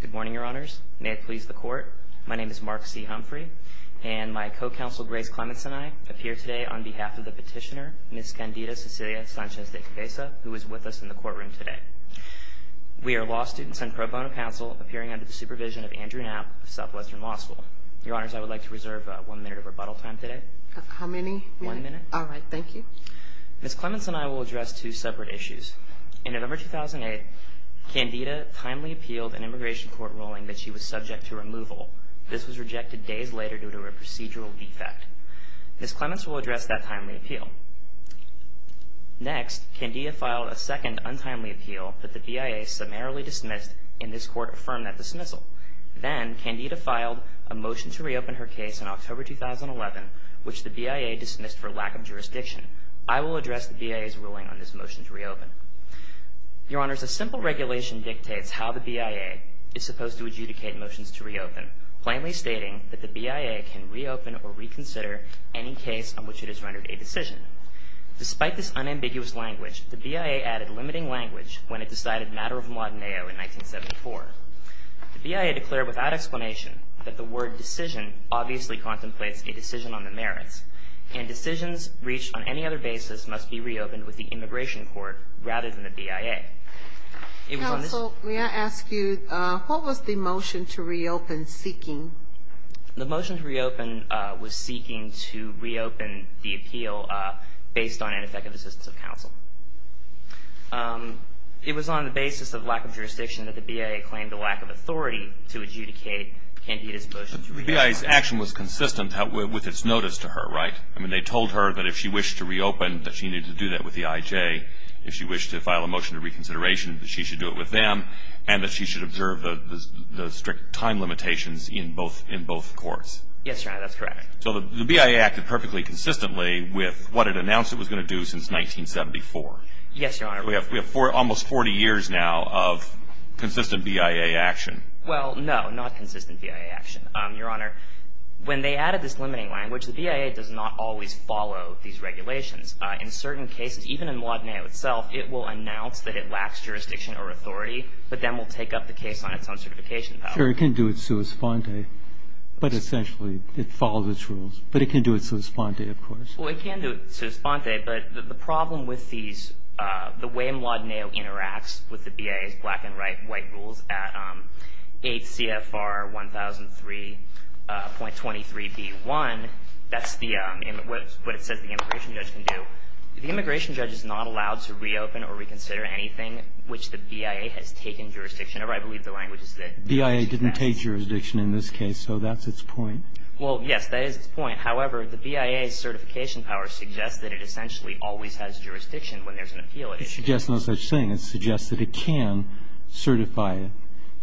Good morning, Your Honors. May it please the Court, my name is Mark C. Humphrey, and my co-counsel Grace Clements and I appear today on behalf of the petitioner, Ms. Candida Cecilia Sanchez-De Cabeza, who is with us in the courtroom today. We are law students and pro bono counsel appearing under the supervision of Andrew Knapp of Southwestern Law School. Your Honors, I would like to reserve one minute of rebuttal time today. How many minutes? One minute. All right, thank you. Ms. Clements and I will address two separate issues. In November 2008, Candida timely appealed an immigration court ruling that she was subject to removal. This was rejected days later due to a procedural defect. Ms. Clements will address that timely appeal. Next, Candida filed a second untimely appeal that the BIA summarily dismissed, and this Court affirmed that dismissal. Then, Candida filed a motion to reopen her case in October 2011, which the BIA dismissed for lack of jurisdiction. I will address the BIA's ruling on this motion to reopen. Your Honors, a simple regulation dictates how the BIA is supposed to adjudicate motions to reopen, plainly stating that the BIA can reopen or reconsider any case on which it has rendered a decision. Despite this unambiguous language, the BIA added limiting language when it decided matter of modenaio in 1974. The BIA declared without explanation that the word decision obviously contemplates a decision on the merits, and decisions reached on any other basis must be reopened with the immigration court rather than the BIA. Counsel, may I ask you, what was the motion to reopen seeking? The motion to reopen was seeking to reopen the appeal based on ineffective assistance of counsel. It was on the basis of lack of jurisdiction that the BIA claimed the lack of authority to adjudicate Candida's motion to reopen. The BIA's action was consistent with its notice to her, right? I mean, they told her that if she wished to reopen, that she needed to do that with the IJ. If she wished to file a motion to reconsideration, that she should do it with them, and that she should observe the strict time limitations in both courts. Yes, Your Honor, that's correct. So the BIA acted perfectly consistently with what it announced it was going to do since 1974. Yes, Your Honor. We have almost 40 years now of consistent BIA action. Well, no, not consistent BIA action. Your Honor, when they added this limiting language, the BIA does not always follow these regulations. In certain cases, even in Mladenio itself, it will announce that it lacks jurisdiction or authority, but then will take up the case on its own certification power. Sure, it can do it sua sponte, but essentially it follows its rules. But it can do it sua sponte, of course. Well, it can do it sua sponte, but the problem with these, the way Mladenio interacts with the BIA's black and white rules at 8 CFR 1003.23b1, that's the, what it says the immigration judge can do. The immigration judge is not allowed to reopen or reconsider anything which the BIA has taken jurisdiction over. I believe the language is that it should pass. BIA didn't take jurisdiction in this case, so that's its point. Well, yes, that is its point. However, the BIA's certification power suggests that it essentially always has jurisdiction when there's an appeal. It suggests no such thing. It suggests that it can certify it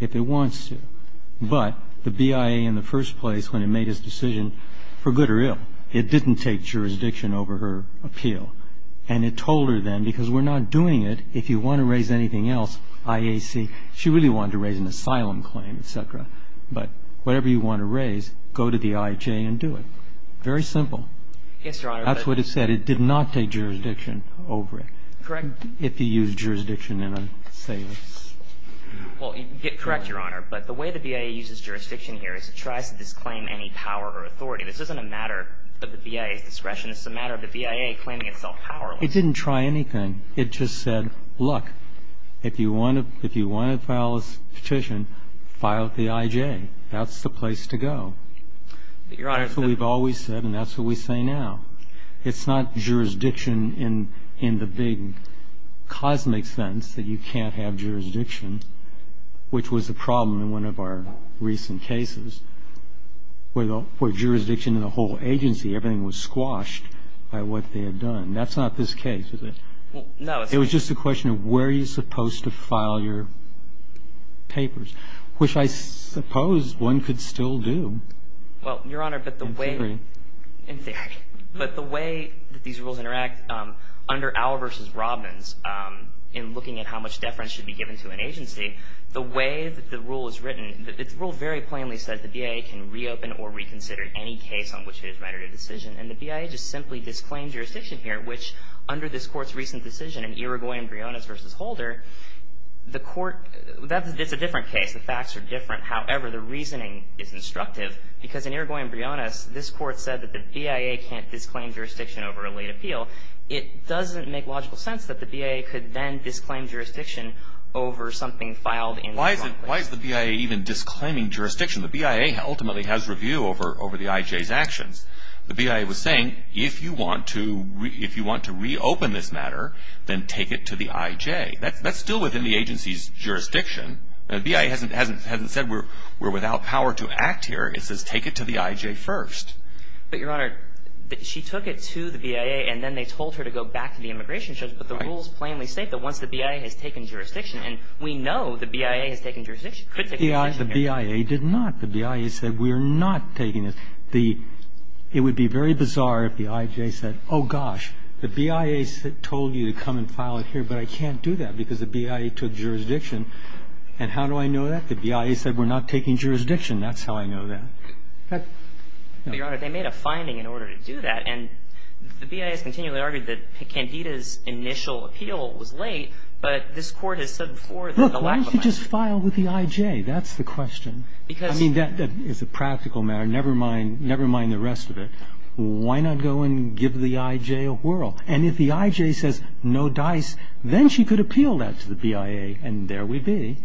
if it wants to. But the BIA in the first place, when it made its decision, for good or ill, it didn't take jurisdiction over her appeal. And it told her then, because we're not doing it, if you want to raise anything else, IAC. She really wanted to raise an asylum claim, et cetera. But whatever you want to raise, go to the IJ and do it. Very simple. Yes, Your Honor. That's what it said. It did not take jurisdiction over it. Correct. If you use jurisdiction in an assailant. Well, correct, Your Honor. But the way the BIA uses jurisdiction here is it tries to disclaim any power or authority. This isn't a matter of the BIA's discretion. This is a matter of the BIA claiming itself powerless. It didn't try anything. It just said, look, if you want to file a petition, file at the IJ. That's the place to go. But, Your Honor. That's what we've always said, and that's what we say now. It's not jurisdiction in the big cosmic sense that you can't have jurisdiction, which was a problem in one of our recent cases, where jurisdiction in the whole agency, everything was squashed by what they had done. That's not this case, is it? No. It was just a question of where are you supposed to file your papers, which I suppose one could still do. Well, Your Honor, but the way in theory. But the way that these rules interact under Auer v. Robbins in looking at how much deference should be given to an agency, the way that the rule is written, the rule very plainly says the BIA can reopen or reconsider any case on which it has made a decision, and the BIA just simply disclaims jurisdiction here, which under this Court's recent decision in Irigoyen-Briones v. Holder, the Court, it's a different case. The facts are different. However, the reasoning is instructive because in Irigoyen-Briones, this Court said that the BIA can't disclaim jurisdiction over a late appeal. It doesn't make logical sense that the BIA could then disclaim jurisdiction over something filed in Irigoyen-Briones. Why is the BIA even disclaiming jurisdiction? The BIA ultimately has review over the IJ's actions. The BIA was saying if you want to reopen this matter, then take it to the IJ. That's still within the agency's jurisdiction. The BIA hasn't said we're without power to act here. It says take it to the IJ first. But, Your Honor, she took it to the BIA, and then they told her to go back to the immigration judge. Right. But the rules plainly state that once the BIA has taken jurisdiction, and we know the BIA has taken jurisdiction, could take jurisdiction here. The BIA did not. The BIA said we're not taking it. The – it would be very bizarre if the IJ said, oh, gosh, the BIA told you to come and file it here, but I can't do that because the BIA took jurisdiction. And how do I know that? The BIA said we're not taking jurisdiction. That's how I know that. But, Your Honor, they made a finding in order to do that, and the BIA has continually argued that Candida's initial appeal was late, but this Court has said before that the lack of money – Look, why don't you just file with the IJ? That's the question. Because – I mean, that is a practical matter. Never mind – never mind the rest of it. Why not go and give the IJ a whirl? And if the IJ says no dice, then she could appeal that to the BIA, and there we'd be.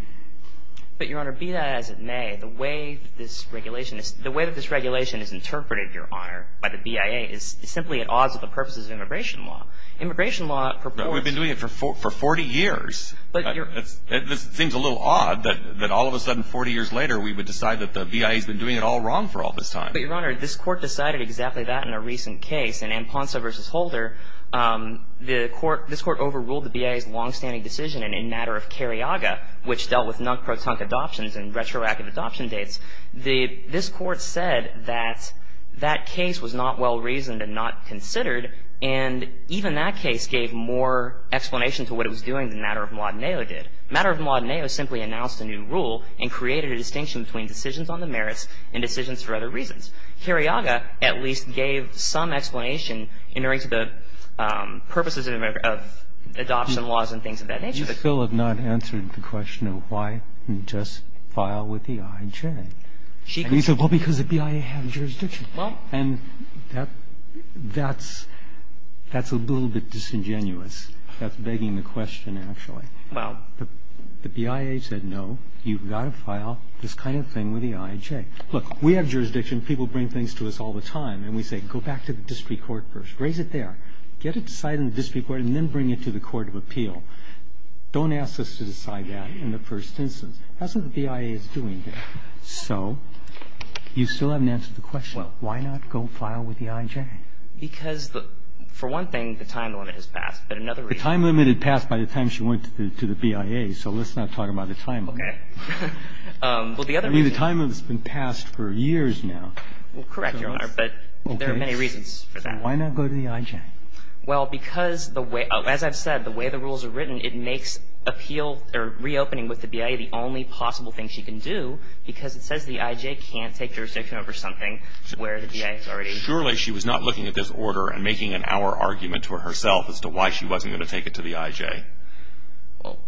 But, Your Honor, be that as it may, the way that this regulation is – the way that this regulation is interpreted, Your Honor, by the BIA is simply at odds with the purposes of immigration law. Immigration law purports – But we've been doing it for 40 years. But, Your – It seems a little odd that all of a sudden, 40 years later, we would decide that the BIA's been doing it all wrong for all this time. But, Your Honor, this Court decided exactly that in a recent case in Amponsa v. Holder. The Court – this Court overruled the BIA's longstanding decision in a matter of This Court said that that case was not well-reasoned and not considered. And even that case gave more explanation to what it was doing than matter-of-law Deneo did. Matter-of-law Deneo simply announced a new rule and created a distinction between decisions on the merits and decisions for other reasons. Cariaga at least gave some explanation in regards to the purposes of adoption laws and things of that nature. But you still have not answered the question of why you just file with the I.J. And he said, well, because the BIA had jurisdiction. And that's – that's a little bit disingenuous. That's begging the question, actually. Well – The BIA said, no, you've got to file this kind of thing with the I.J. Look, we have jurisdiction. People bring things to us all the time. And we say, go back to the district court first. Raise it there. Get it decided in the district court and then bring it to the court of appeal. Don't ask us to decide that in the first instance. That's what the BIA is doing there. So you still haven't answered the question of why not go file with the I.J. Because the – for one thing, the time limit has passed. But another reason – The time limit had passed by the time she went to the BIA. So let's not talk about the time limit. Okay. Well, the other reason – I mean, the time limit has been passed for years now. Well, correct, Your Honor. But there are many reasons for that. Okay. So why not go to the I.J.? Well, because the way – as I've said, the way the rules are written, it makes appeal – or reopening with the BIA the only possible thing she can do because it says the I.J. can't take jurisdiction over something where the BIA is already. Surely she was not looking at this order and making an hour argument to herself as to why she wasn't going to take it to the I.J. Well,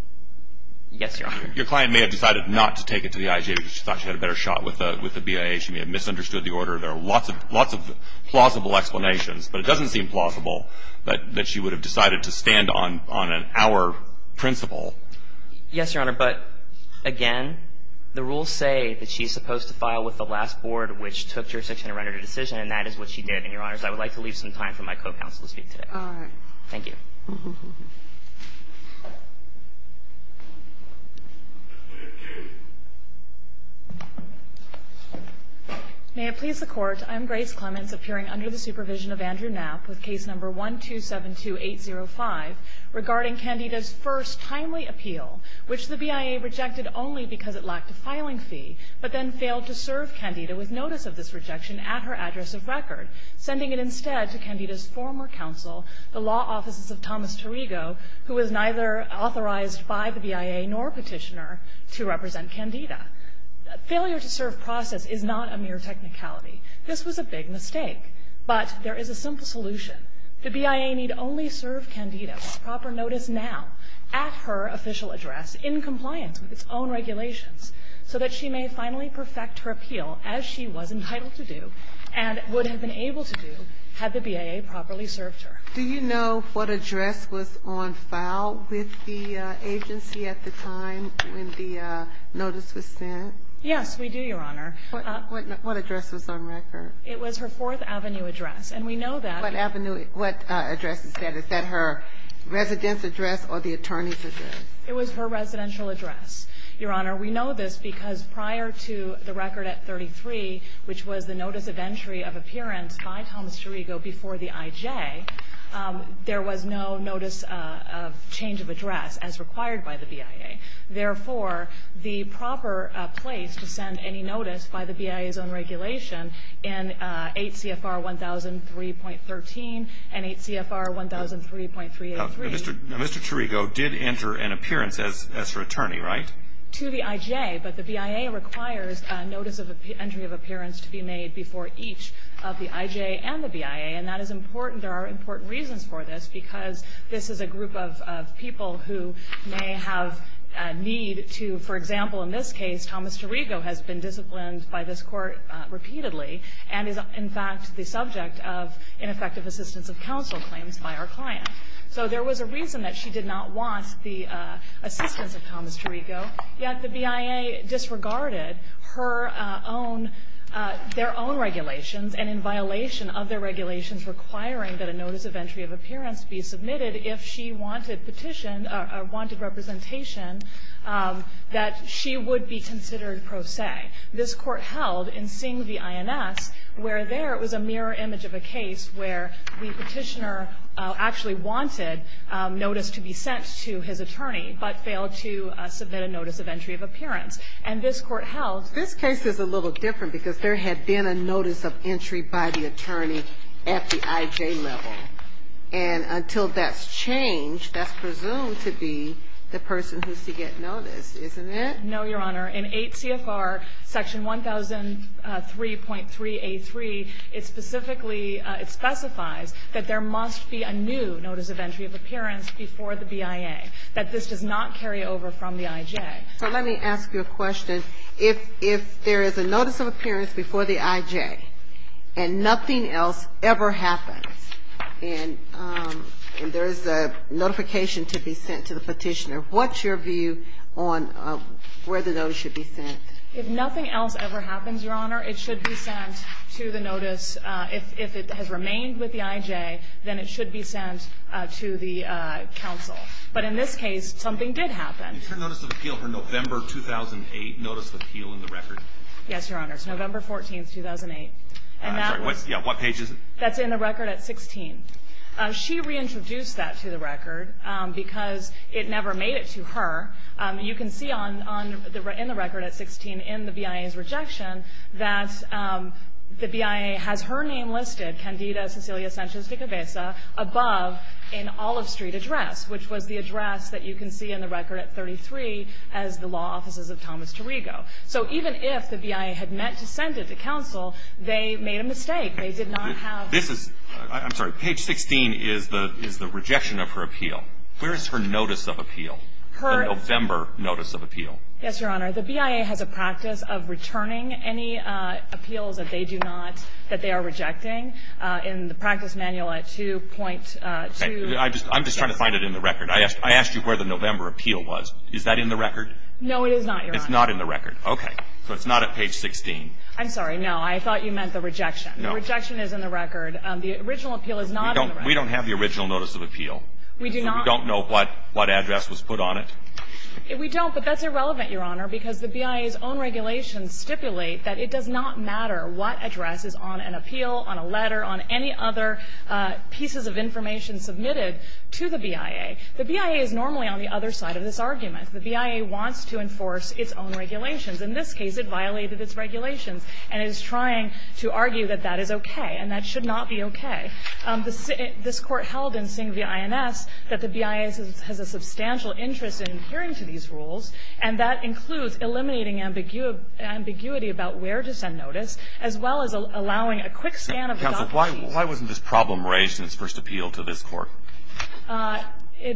yes, Your Honor. Your client may have decided not to take it to the I.J. because she thought she had a better shot with the BIA. She may have misunderstood the order. There are lots of plausible explanations. But it doesn't seem plausible that she would have decided to stand on an hour principle. Yes, Your Honor. But, again, the rules say that she's supposed to file with the last board, which took jurisdiction and rendered a decision, and that is what she did. And, Your Honors, I would like to leave some time for my co-counsel to speak today. Thank you. May it please the Court. I'm Grace Clements, appearing under the supervision of Andrew Knapp with case number 1272805 regarding Candida's first timely appeal, which the BIA rejected only because it lacked a filing fee, but then failed to serve Candida with notice of this rejection at her address of record, sending it instead to Candida's former counsel, the law offices of Thomas Tirigo, who was neither authorized by the BIA nor petitioner to represent Candida. Failure to serve process is not a mere technicality. This was a big mistake. But there is a simple solution. The BIA need only serve Candida with proper notice now at her official address in compliance with its own regulations so that she may finally perfect her appeal as she was entitled to do and would have been able to do had the BIA properly served her. Do you know what address was on file with the agency at the time when the notice was sent? Yes, we do, Your Honor. What address was on record? It was her Fourth Avenue address. And we know that. What avenue? What address is that? Is that her residence address or the attorney's address? It was her residential address, Your Honor. We know this because prior to the record at 33, which was the notice of entry of appearance by Thomas Tirigo before the IJ, there was no notice of change of address as required by the BIA. Therefore, the proper place to send any notice by the BIA's own regulation in 8 CFR 1003.13 and 8 CFR 1003.383. Now, Mr. Tirigo did enter an appearance as her attorney, right? To the IJ. But the BIA requires a notice of entry of appearance to be made before each of the IJ and the BIA. And that is important. There are important reasons for this, because this is a group of people who may have a need to, for example, in this case, Thomas Tirigo has been disciplined by this court repeatedly and is, in fact, the subject of ineffective assistance of counsel claims by our client. So there was a reason that she did not want the assistance of Thomas Tirigo. Yet the BIA disregarded their own regulations and in violation of their regulations requiring that a notice of entry of appearance be submitted if she wanted petition or wanted representation that she would be considered pro se. This court held in seeing the INS where there was a mirror image of a case where the petitioner actually wanted notice to be sent to his attorney but failed to submit a notice of entry of appearance. And this court held this case is a little different because there had been a notice of entry by the attorney at the IJ level. And until that's changed, that's presumed to be the person who's to get noticed, isn't it? No, Your Honor. In 8 CFR section 1003.3A3, it specifically, it specifies that there must be a new notice of entry of appearance before the BIA, that this does not carry over from the IJ. But let me ask you a question. If there is a notice of appearance before the IJ and nothing else ever happens and there is a notification to be sent to the petitioner, what's your view on where the notice should be sent? If nothing else ever happens, Your Honor, it should be sent to the notice. If it has remained with the IJ, then it should be sent to the counsel. But in this case, something did happen. Is her notice of appeal for November 2008 notice of appeal in the record? Yes, Your Honor. It's November 14, 2008. I'm sorry. What page is it? That's in the record at 16. She reintroduced that to the record because it never made it to her. You can see in the record at 16 in the BIA's rejection that the BIA has her name listed, Candida Cecilia Sanchez de Cabeza, above an Olive Street address, which was the address that you can see in the record at 33 as the law offices of Thomas Tirigo. So even if the BIA had meant to send it to counsel, they made a mistake. They did not have the notice of appeal. I'm sorry. Page 16 is the rejection of her appeal. Where is her notice of appeal, her November notice of appeal? Yes, Your Honor. The BIA has a practice of returning any appeals that they do not, that they are rejecting in the practice manual at 2.2. I'm just trying to find it in the record. I asked you where the November appeal was. Is that in the record? No, it is not, Your Honor. It's not in the record. Okay. So it's not at page 16. I'm sorry. No, I thought you meant the rejection. No. The rejection is in the record. The original appeal is not in the record. We don't have the original notice of appeal. We do not. So we don't know what address was put on it? We don't, but that's irrelevant, Your Honor, because the BIA's own regulations stipulate that it does not matter what address is on an appeal, on a letter, on any other pieces of information submitted to the BIA. The BIA is normally on the other side of this argument. The BIA wants to enforce its own regulations. In this case, it violated its regulations and is trying to argue that that is okay and that should not be okay. This Court held in Singh v. INS that the BIA has a substantial interest in adhering to these rules, and that includes eliminating ambiguity about where to send notice as well as allowing a quick scan of the document. But why wasn't this problem raised in its first appeal to this Court?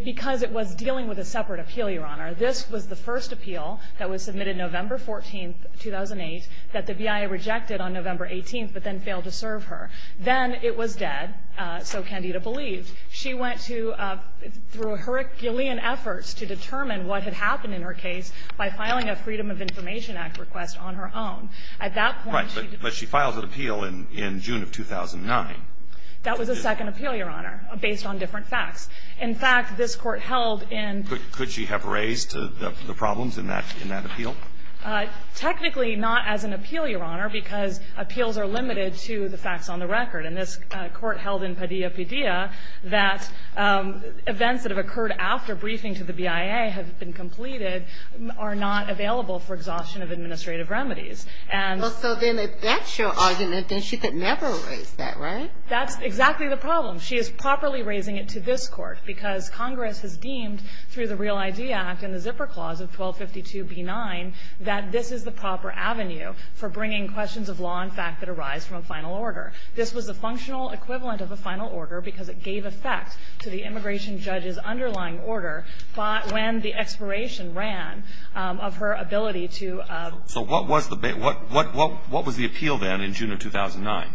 Because it was dealing with a separate appeal, Your Honor. This was the first appeal that was submitted November 14th, 2008, that the BIA rejected on November 18th but then failed to serve her. Then it was dead, so Candida believed. She went to, through a herculean effort to determine what had happened in her case by filing a Freedom of Information Act request on her own. At that point, she did. And that was the second appeal in June of 2009. That was the second appeal, Your Honor, based on different facts. In fact, this Court held in ---- Could she have raised the problems in that appeal? Technically not as an appeal, Your Honor, because appeals are limited to the facts on the record. And this Court held in Padilla v. Padilla that events that have occurred after briefing to the BIA have been completed are not available for exhaustion of administrative remedies. Well, so then if that's your argument, then she could never raise that, right? That's exactly the problem. She is properly raising it to this Court because Congress has deemed through the Real ID Act and the Zipper Clause of 1252b-9 that this is the proper avenue for bringing questions of law and fact that arise from a final order. This was a functional equivalent of a final order because it gave effect to the immigration judge's underlying order when the expiration ran of her ability to bring questions of law and fact to this Court. So what was the appeal then in June of 2009?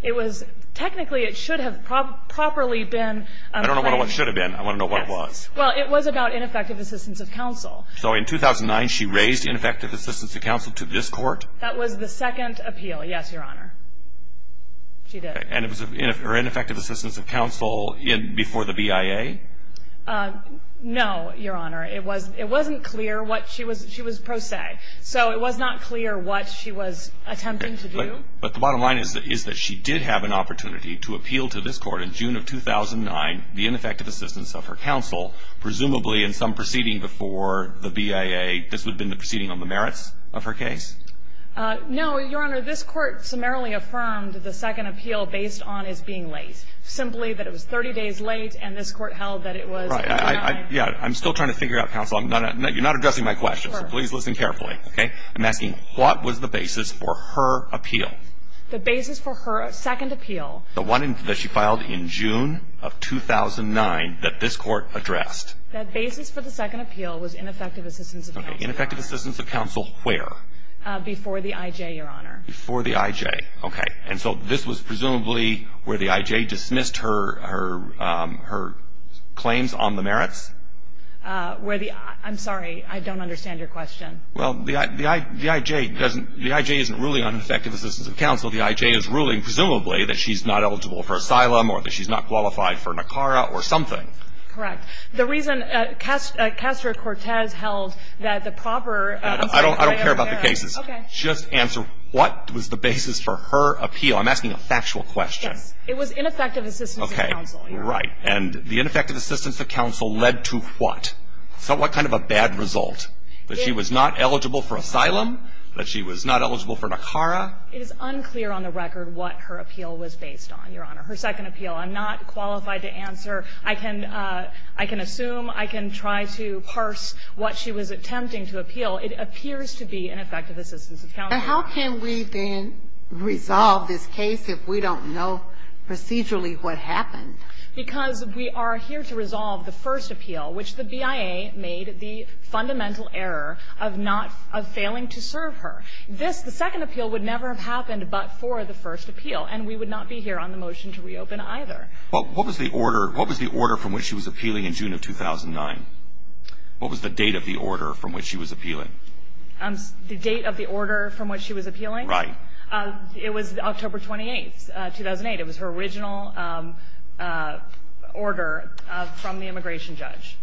It was technically it should have properly been ---- I don't know what it should have been. I want to know what it was. Well, it was about ineffective assistance of counsel. So in 2009, she raised ineffective assistance of counsel to this Court? That was the second appeal, yes, Your Honor. She did. And it was her ineffective assistance of counsel before the BIA? No, Your Honor. It wasn't clear what she was pro se. So it was not clear what she was attempting to do. Okay. But the bottom line is that she did have an opportunity to appeal to this Court in June of 2009 the ineffective assistance of her counsel, presumably in some proceeding before the BIA. This would have been the proceeding on the merits of her case? No, Your Honor. This Court summarily affirmed the second appeal based on his being late, simply that it was 30 days late, and this Court held that it was in 2009. Yeah, I'm still trying to figure out, counsel. You're not addressing my question, so please listen carefully. Okay. I'm asking what was the basis for her appeal? The basis for her second appeal. The one that she filed in June of 2009 that this Court addressed. That basis for the second appeal was ineffective assistance of counsel. Okay. Ineffective assistance of counsel where? Before the IJ, Your Honor. Before the IJ. Okay. And so this was presumably where the IJ dismissed her claims on the merits? I'm sorry. I don't understand your question. Well, the IJ doesn't – the IJ isn't ruling on ineffective assistance of counsel. The IJ is ruling, presumably, that she's not eligible for asylum or that she's not qualified for NACARA or something. Correct. The reason Castro-Cortez held that the proper – I don't care about the cases. Okay. Just answer what was the basis for her appeal? I'm asking a factual question. Yes. It was ineffective assistance of counsel. Okay. Right. And the ineffective assistance of counsel led to what? What kind of a bad result? That she was not eligible for asylum? That she was not eligible for NACARA? It is unclear on the record what her appeal was based on, Your Honor. Her second appeal, I'm not qualified to answer. I can – I can assume, I can try to parse what she was attempting to appeal. It appears to be ineffective assistance of counsel. But how can we then resolve this case if we don't know procedurally what happened? Because we are here to resolve the first appeal, which the BIA made the fundamental error of not – of failing to serve her. This, the second appeal, would never have happened but for the first appeal, and we would not be here on the motion to reopen either. Well, what was the order – what was the order from which she was appealing in June of 2009? What was the date of the order from which she was appealing? The date of the order from which she was appealing? Right. It was October 28, 2008. It was her original order from the immigration judge.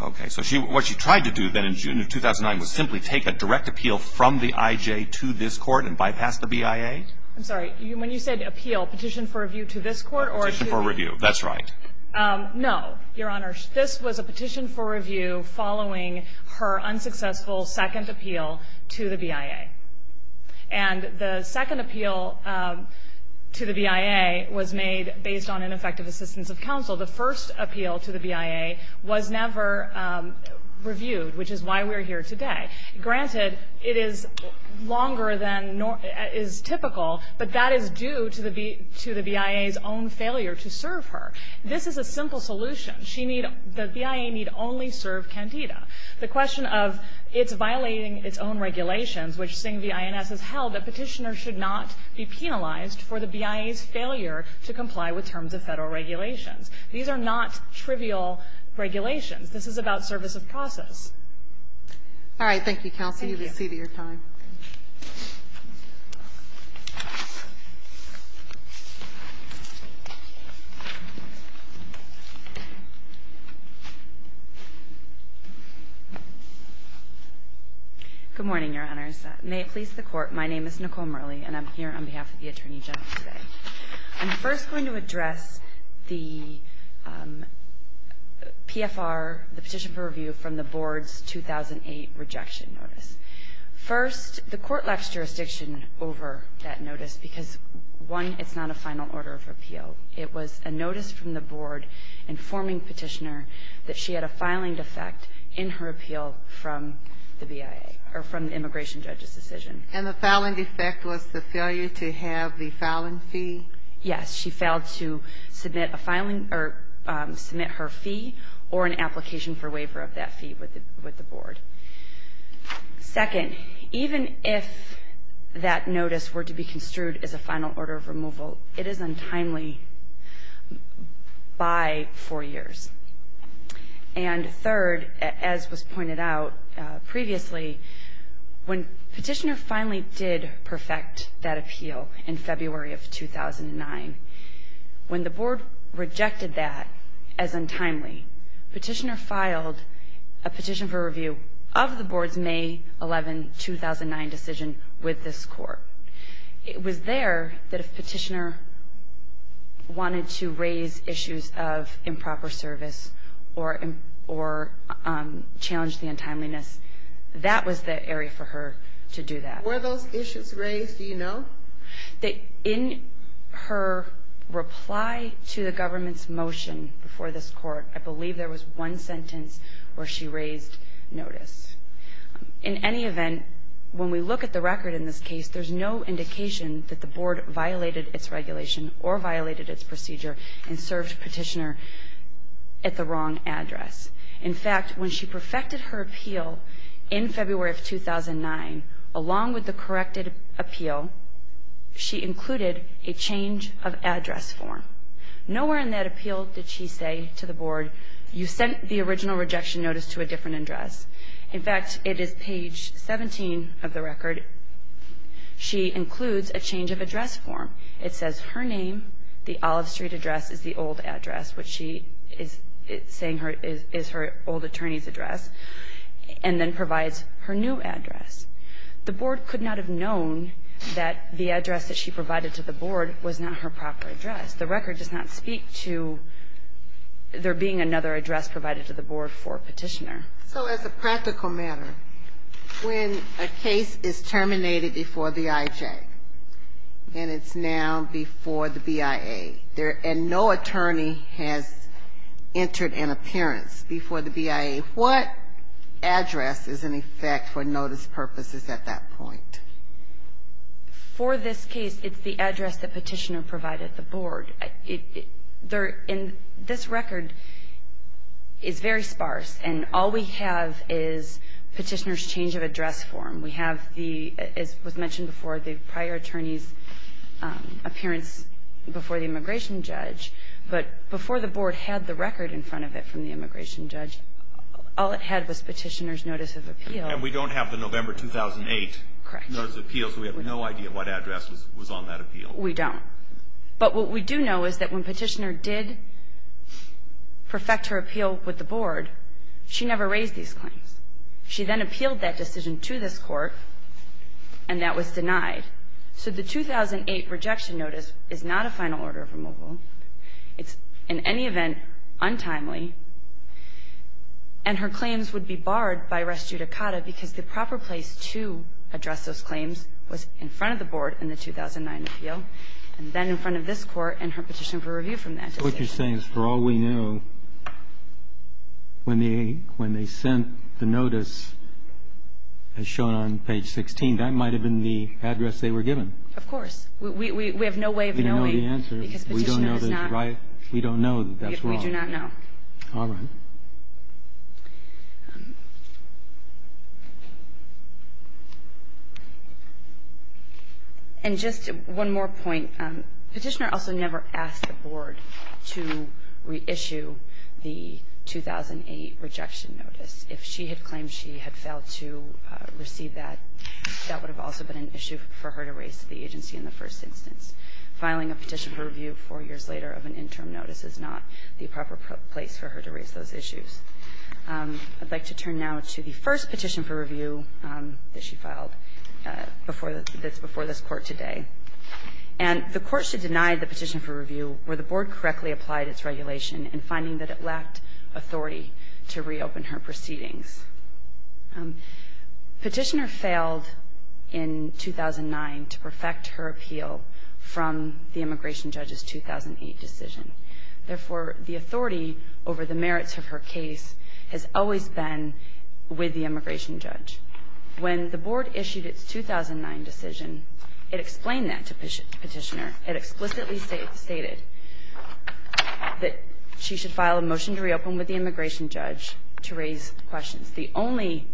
Okay. So she – what she tried to do then in June of 2009 was simply take a direct appeal from the IJ to this court and bypass the BIA? I'm sorry. When you said appeal, petition for review to this court or to – Petition for review. That's right. No, Your Honor. This was a petition for review following her unsuccessful second appeal to the BIA. And the second appeal to the BIA was made based on ineffective assistance of counsel. The first appeal to the BIA was never reviewed, which is why we are here today. Granted, it is longer than – is typical, but that is due to the BIA's own failure to serve her. This is a simple solution. She need – the BIA need only serve Candida. The question of it's violating its own regulations, which Singh v. INS has held, that Petitioner should not be penalized for the BIA's failure to comply with terms of Federal regulations. These are not trivial regulations. This is about service of process. All right. Thank you, counsel. You've exceeded your time. Good morning, Your Honors. May it please the Court. My name is Nicole Murley, and I'm here on behalf of the Attorney General today. I'm first going to address the PFR, the petition for review, from the Board's 2008 rejection notice. First, the Court left jurisdiction over that notice because, one, it's not a final order of appeal. It was a notice from the Board informing Petitioner that she had a filing defect in her appeal from the BIA – or from the immigration judge's decision. And the filing defect was the failure to have the filing fee? Yes. She failed to submit a filing – or submit her fee or an application for waiver of that fee with the Board. Second, even if that notice were to be construed as a final order of removal, it is untimely by four years. And third, as was pointed out previously, when Petitioner finally did perfect that appeal in February of 2009, when the Board rejected that as untimely, Petitioner filed a petition for review of the Board's May 11, 2009 decision with this Court. It was there that if Petitioner wanted to raise issues of improper service or challenge the untimeliness, that was the area for her to do that. Were those issues raised? Do you know? In her reply to the Government's motion before this Court, I believe there was one sentence where she raised notice. In any event, when we look at the record in this case, there's no indication that the Board violated its regulation or violated its procedure and served Petitioner at the wrong address. In fact, when she perfected her appeal in February of 2009, along with the corrected appeal, she included a change of address form. Nowhere in that appeal did she say to the Board, you sent the original rejection notice to a different address. In fact, it is page 17 of the record. She includes a change of address form. It says her name, the Olive Street address is the old address, which she is saying is her old attorney's address, and then provides her new address. The Board could not have known that the address that she provided to the Board was not her proper address. The record does not speak to there being another address provided to the Board for Petitioner. Sotomayor, so as a practical matter, when a case is terminated before the IJ, and it's now before the BIA, and no attorney has entered an appearance before the BIA, what address is in effect for notice purposes at that point? For this case, it's the address that Petitioner provided the Board. This record is very sparse, and all we have is Petitioner's change of address form. We have, as was mentioned before, the prior attorney's appearance before the immigration judge, but before the Board had the record in front of it from the immigration judge, all it had was Petitioner's notice of appeal. And we don't have the November 2008 notice of appeal, so we have no idea what address was on that appeal. We don't. But what we do know is that when Petitioner did perfect her appeal with the Board, she never raised these claims. She then appealed that decision to this Court, and that was denied. So the 2008 rejection notice is not a final order of removal. It's, in any event, untimely, and her claims would be barred by res judicata because the proper place to address those claims was in front of the Board in the 2009 appeal, and then in front of this Court and her petition for review from that decision. What you're saying is for all we know, when they sent the notice as shown on page 16, that might have been the address they were given. Of course. We have no way of knowing. We don't know the answer. Because Petitioner is not. We don't know that's right. We don't know that that's wrong. We do not know. All right. And just one more point. Petitioner also never asked the Board to reissue the 2008 rejection notice. If she had claimed she had failed to receive that, that would have also been an issue for her to raise to the agency in the first instance. Filing a petition for review four years later of an interim notice is not the proper place for her to raise those issues. I'd like to turn now to the first petition for review that she filed before this Court today. And the Court should deny the petition for review where the Board correctly applied its regulation in finding that it lacked authority to reopen her proceedings. Petitioner failed in 2009 to perfect her appeal from the immigration judge's 2008 decision. Therefore, the authority over the merits of her case has always been with the immigration judge. When the Board issued its 2009 decision, it explained that to Petitioner. It explicitly stated that she should file a motion to reopen with the immigration judge to raise questions. The only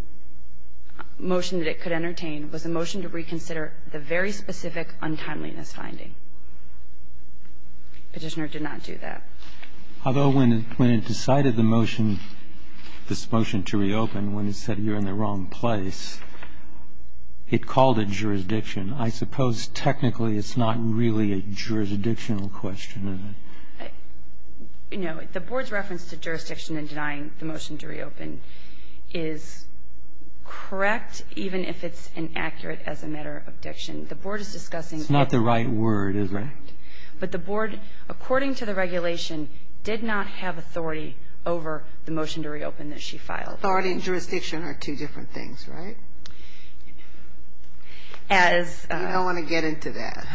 motion that it could entertain was a motion to reconsider the very specific untimeliness finding. Petitioner did not do that. Although when it decided the motion, this motion to reopen, when it said you're in the wrong place, it called it jurisdiction. I suppose technically it's not really a jurisdictional question, is it? No. The Board's reference to jurisdiction in denying the motion to reopen is correct, even if it's inaccurate as a matter of diction. The Board is discussing. It's not the right word, is it? Correct. But the Board, according to the regulation, did not have authority over the motion to reopen that she filed. Authority and jurisdiction are two different things, right? As. I don't want to get into that.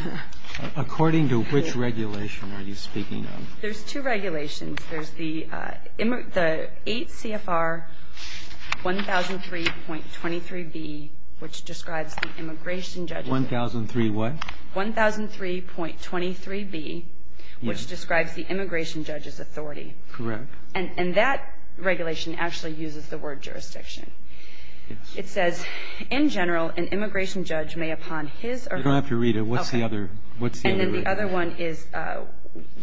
According to which regulation are you speaking of? There's two regulations. There's the 8 CFR 1003.23b, which describes the immigration judge's authority. 1003 what? 1003.23b, which describes the immigration judge's authority. Correct. And that regulation actually uses the word jurisdiction. Yes. It says, in general, an immigration judge may, upon his or her. I don't have to read it. What's the other? And then the other one is 8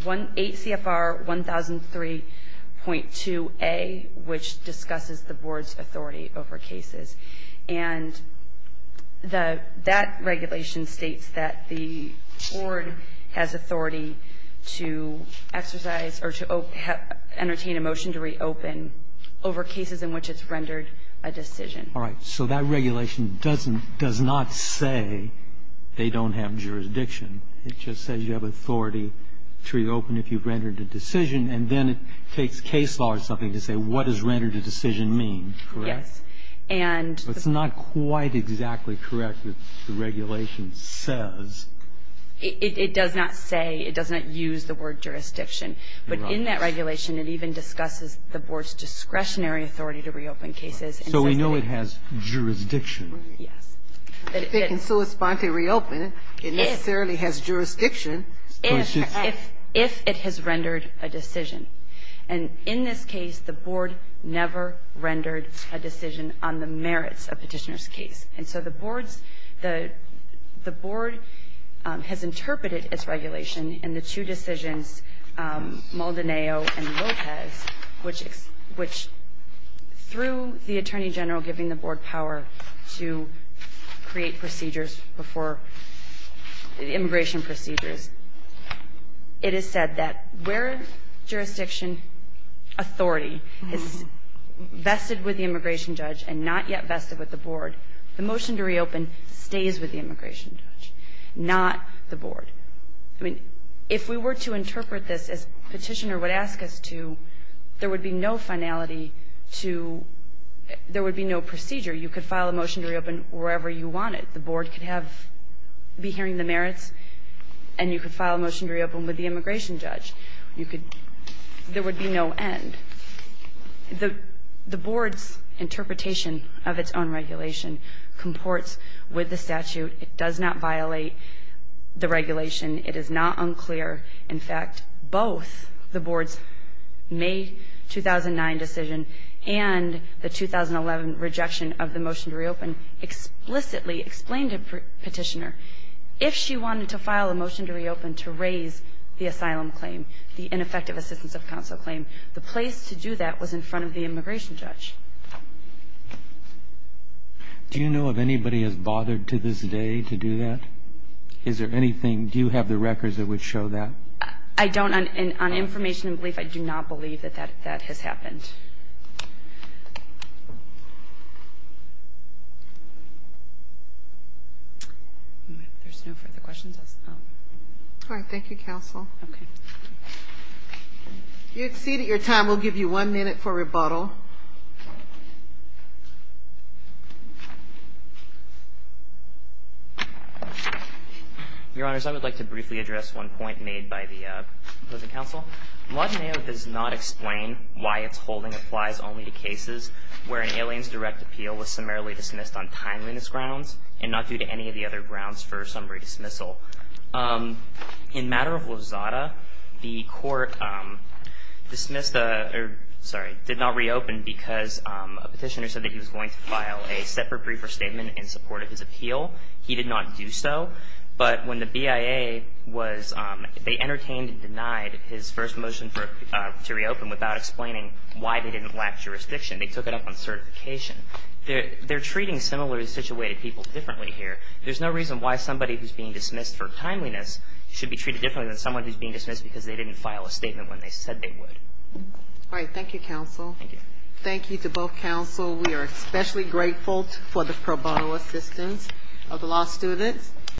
CFR 1003.2a, which discusses the Board's authority over cases. And that regulation states that the Board has authority to exercise or to entertain a motion to reopen over cases in which it's rendered a decision. All right. So that regulation doesn't, does not say they don't have jurisdiction. It just says you have authority to reopen if you've rendered a decision. And then it takes case law or something to say what does rendered a decision mean, correct? Yes. And. But it's not quite exactly correct what the regulation says. It does not say, it does not use the word jurisdiction. But in that regulation, it even discusses the Board's discretionary authority to reopen cases. So we know it has jurisdiction. Right. Yes. But it is. It can still spontaneously reopen. It necessarily has jurisdiction. If. If it has rendered a decision. And in this case, the Board never rendered a decision on the merits of Petitioner's And so the Board's, the Board has interpreted its regulation and the two decisions, Maldonado and Lopez, which, which through the Attorney General giving the Board power to create procedures before, immigration procedures, it is said that where jurisdiction authority is vested with the immigration judge and not yet vested with the Board, the motion to reopen stays with the immigration judge, not the Board. I mean, if we were to interpret this as Petitioner would ask us to, there would be no finality to, there would be no procedure. You could file a motion to reopen wherever you wanted. The Board could have, be hearing the merits, and you could file a motion to reopen with the immigration judge. You could, there would be no end. The Board's interpretation of its own regulation comports with the statute. It does not violate the regulation. It is not unclear. In fact, both the Board's May 2009 decision and the 2011 rejection of the motion to reopen explicitly explained to Petitioner, if she wanted to file a motion to reopen to raise the asylum claim, the ineffective assistance of counsel claim, the place to do that was in front of the immigration judge. Do you know if anybody has bothered to this day to do that? Is there anything, do you have the records that would show that? I don't. On information and belief, I do not believe that that has happened. There's no further questions. All right. Thank you, counsel. Okay. You exceeded your time. We'll give you one minute for rebuttal. Your Honors, I would like to briefly address one point made by the opposing counsel. The law today does not explain why its holding applies only to cases where an alien's direct appeal was summarily dismissed on timeliness grounds and not due to any of the other grounds for summary dismissal. In matter of Lozada, the court dismissed the, or sorry, did not reopen the asylum claim because a petitioner said that he was going to file a separate briefer statement in support of his appeal. He did not do so. But when the BIA was, they entertained and denied his first motion to reopen without explaining why they didn't lack jurisdiction. They took it up on certification. They're treating similarly situated people differently here. There's no reason why somebody who's being dismissed for timeliness should be treated differently than someone who's being dismissed because they didn't file a statement when they said they would. All right. Thank you, counsel. Thank you. Thank you to both counsel. We are especially grateful for the pro bono assistance of the law students.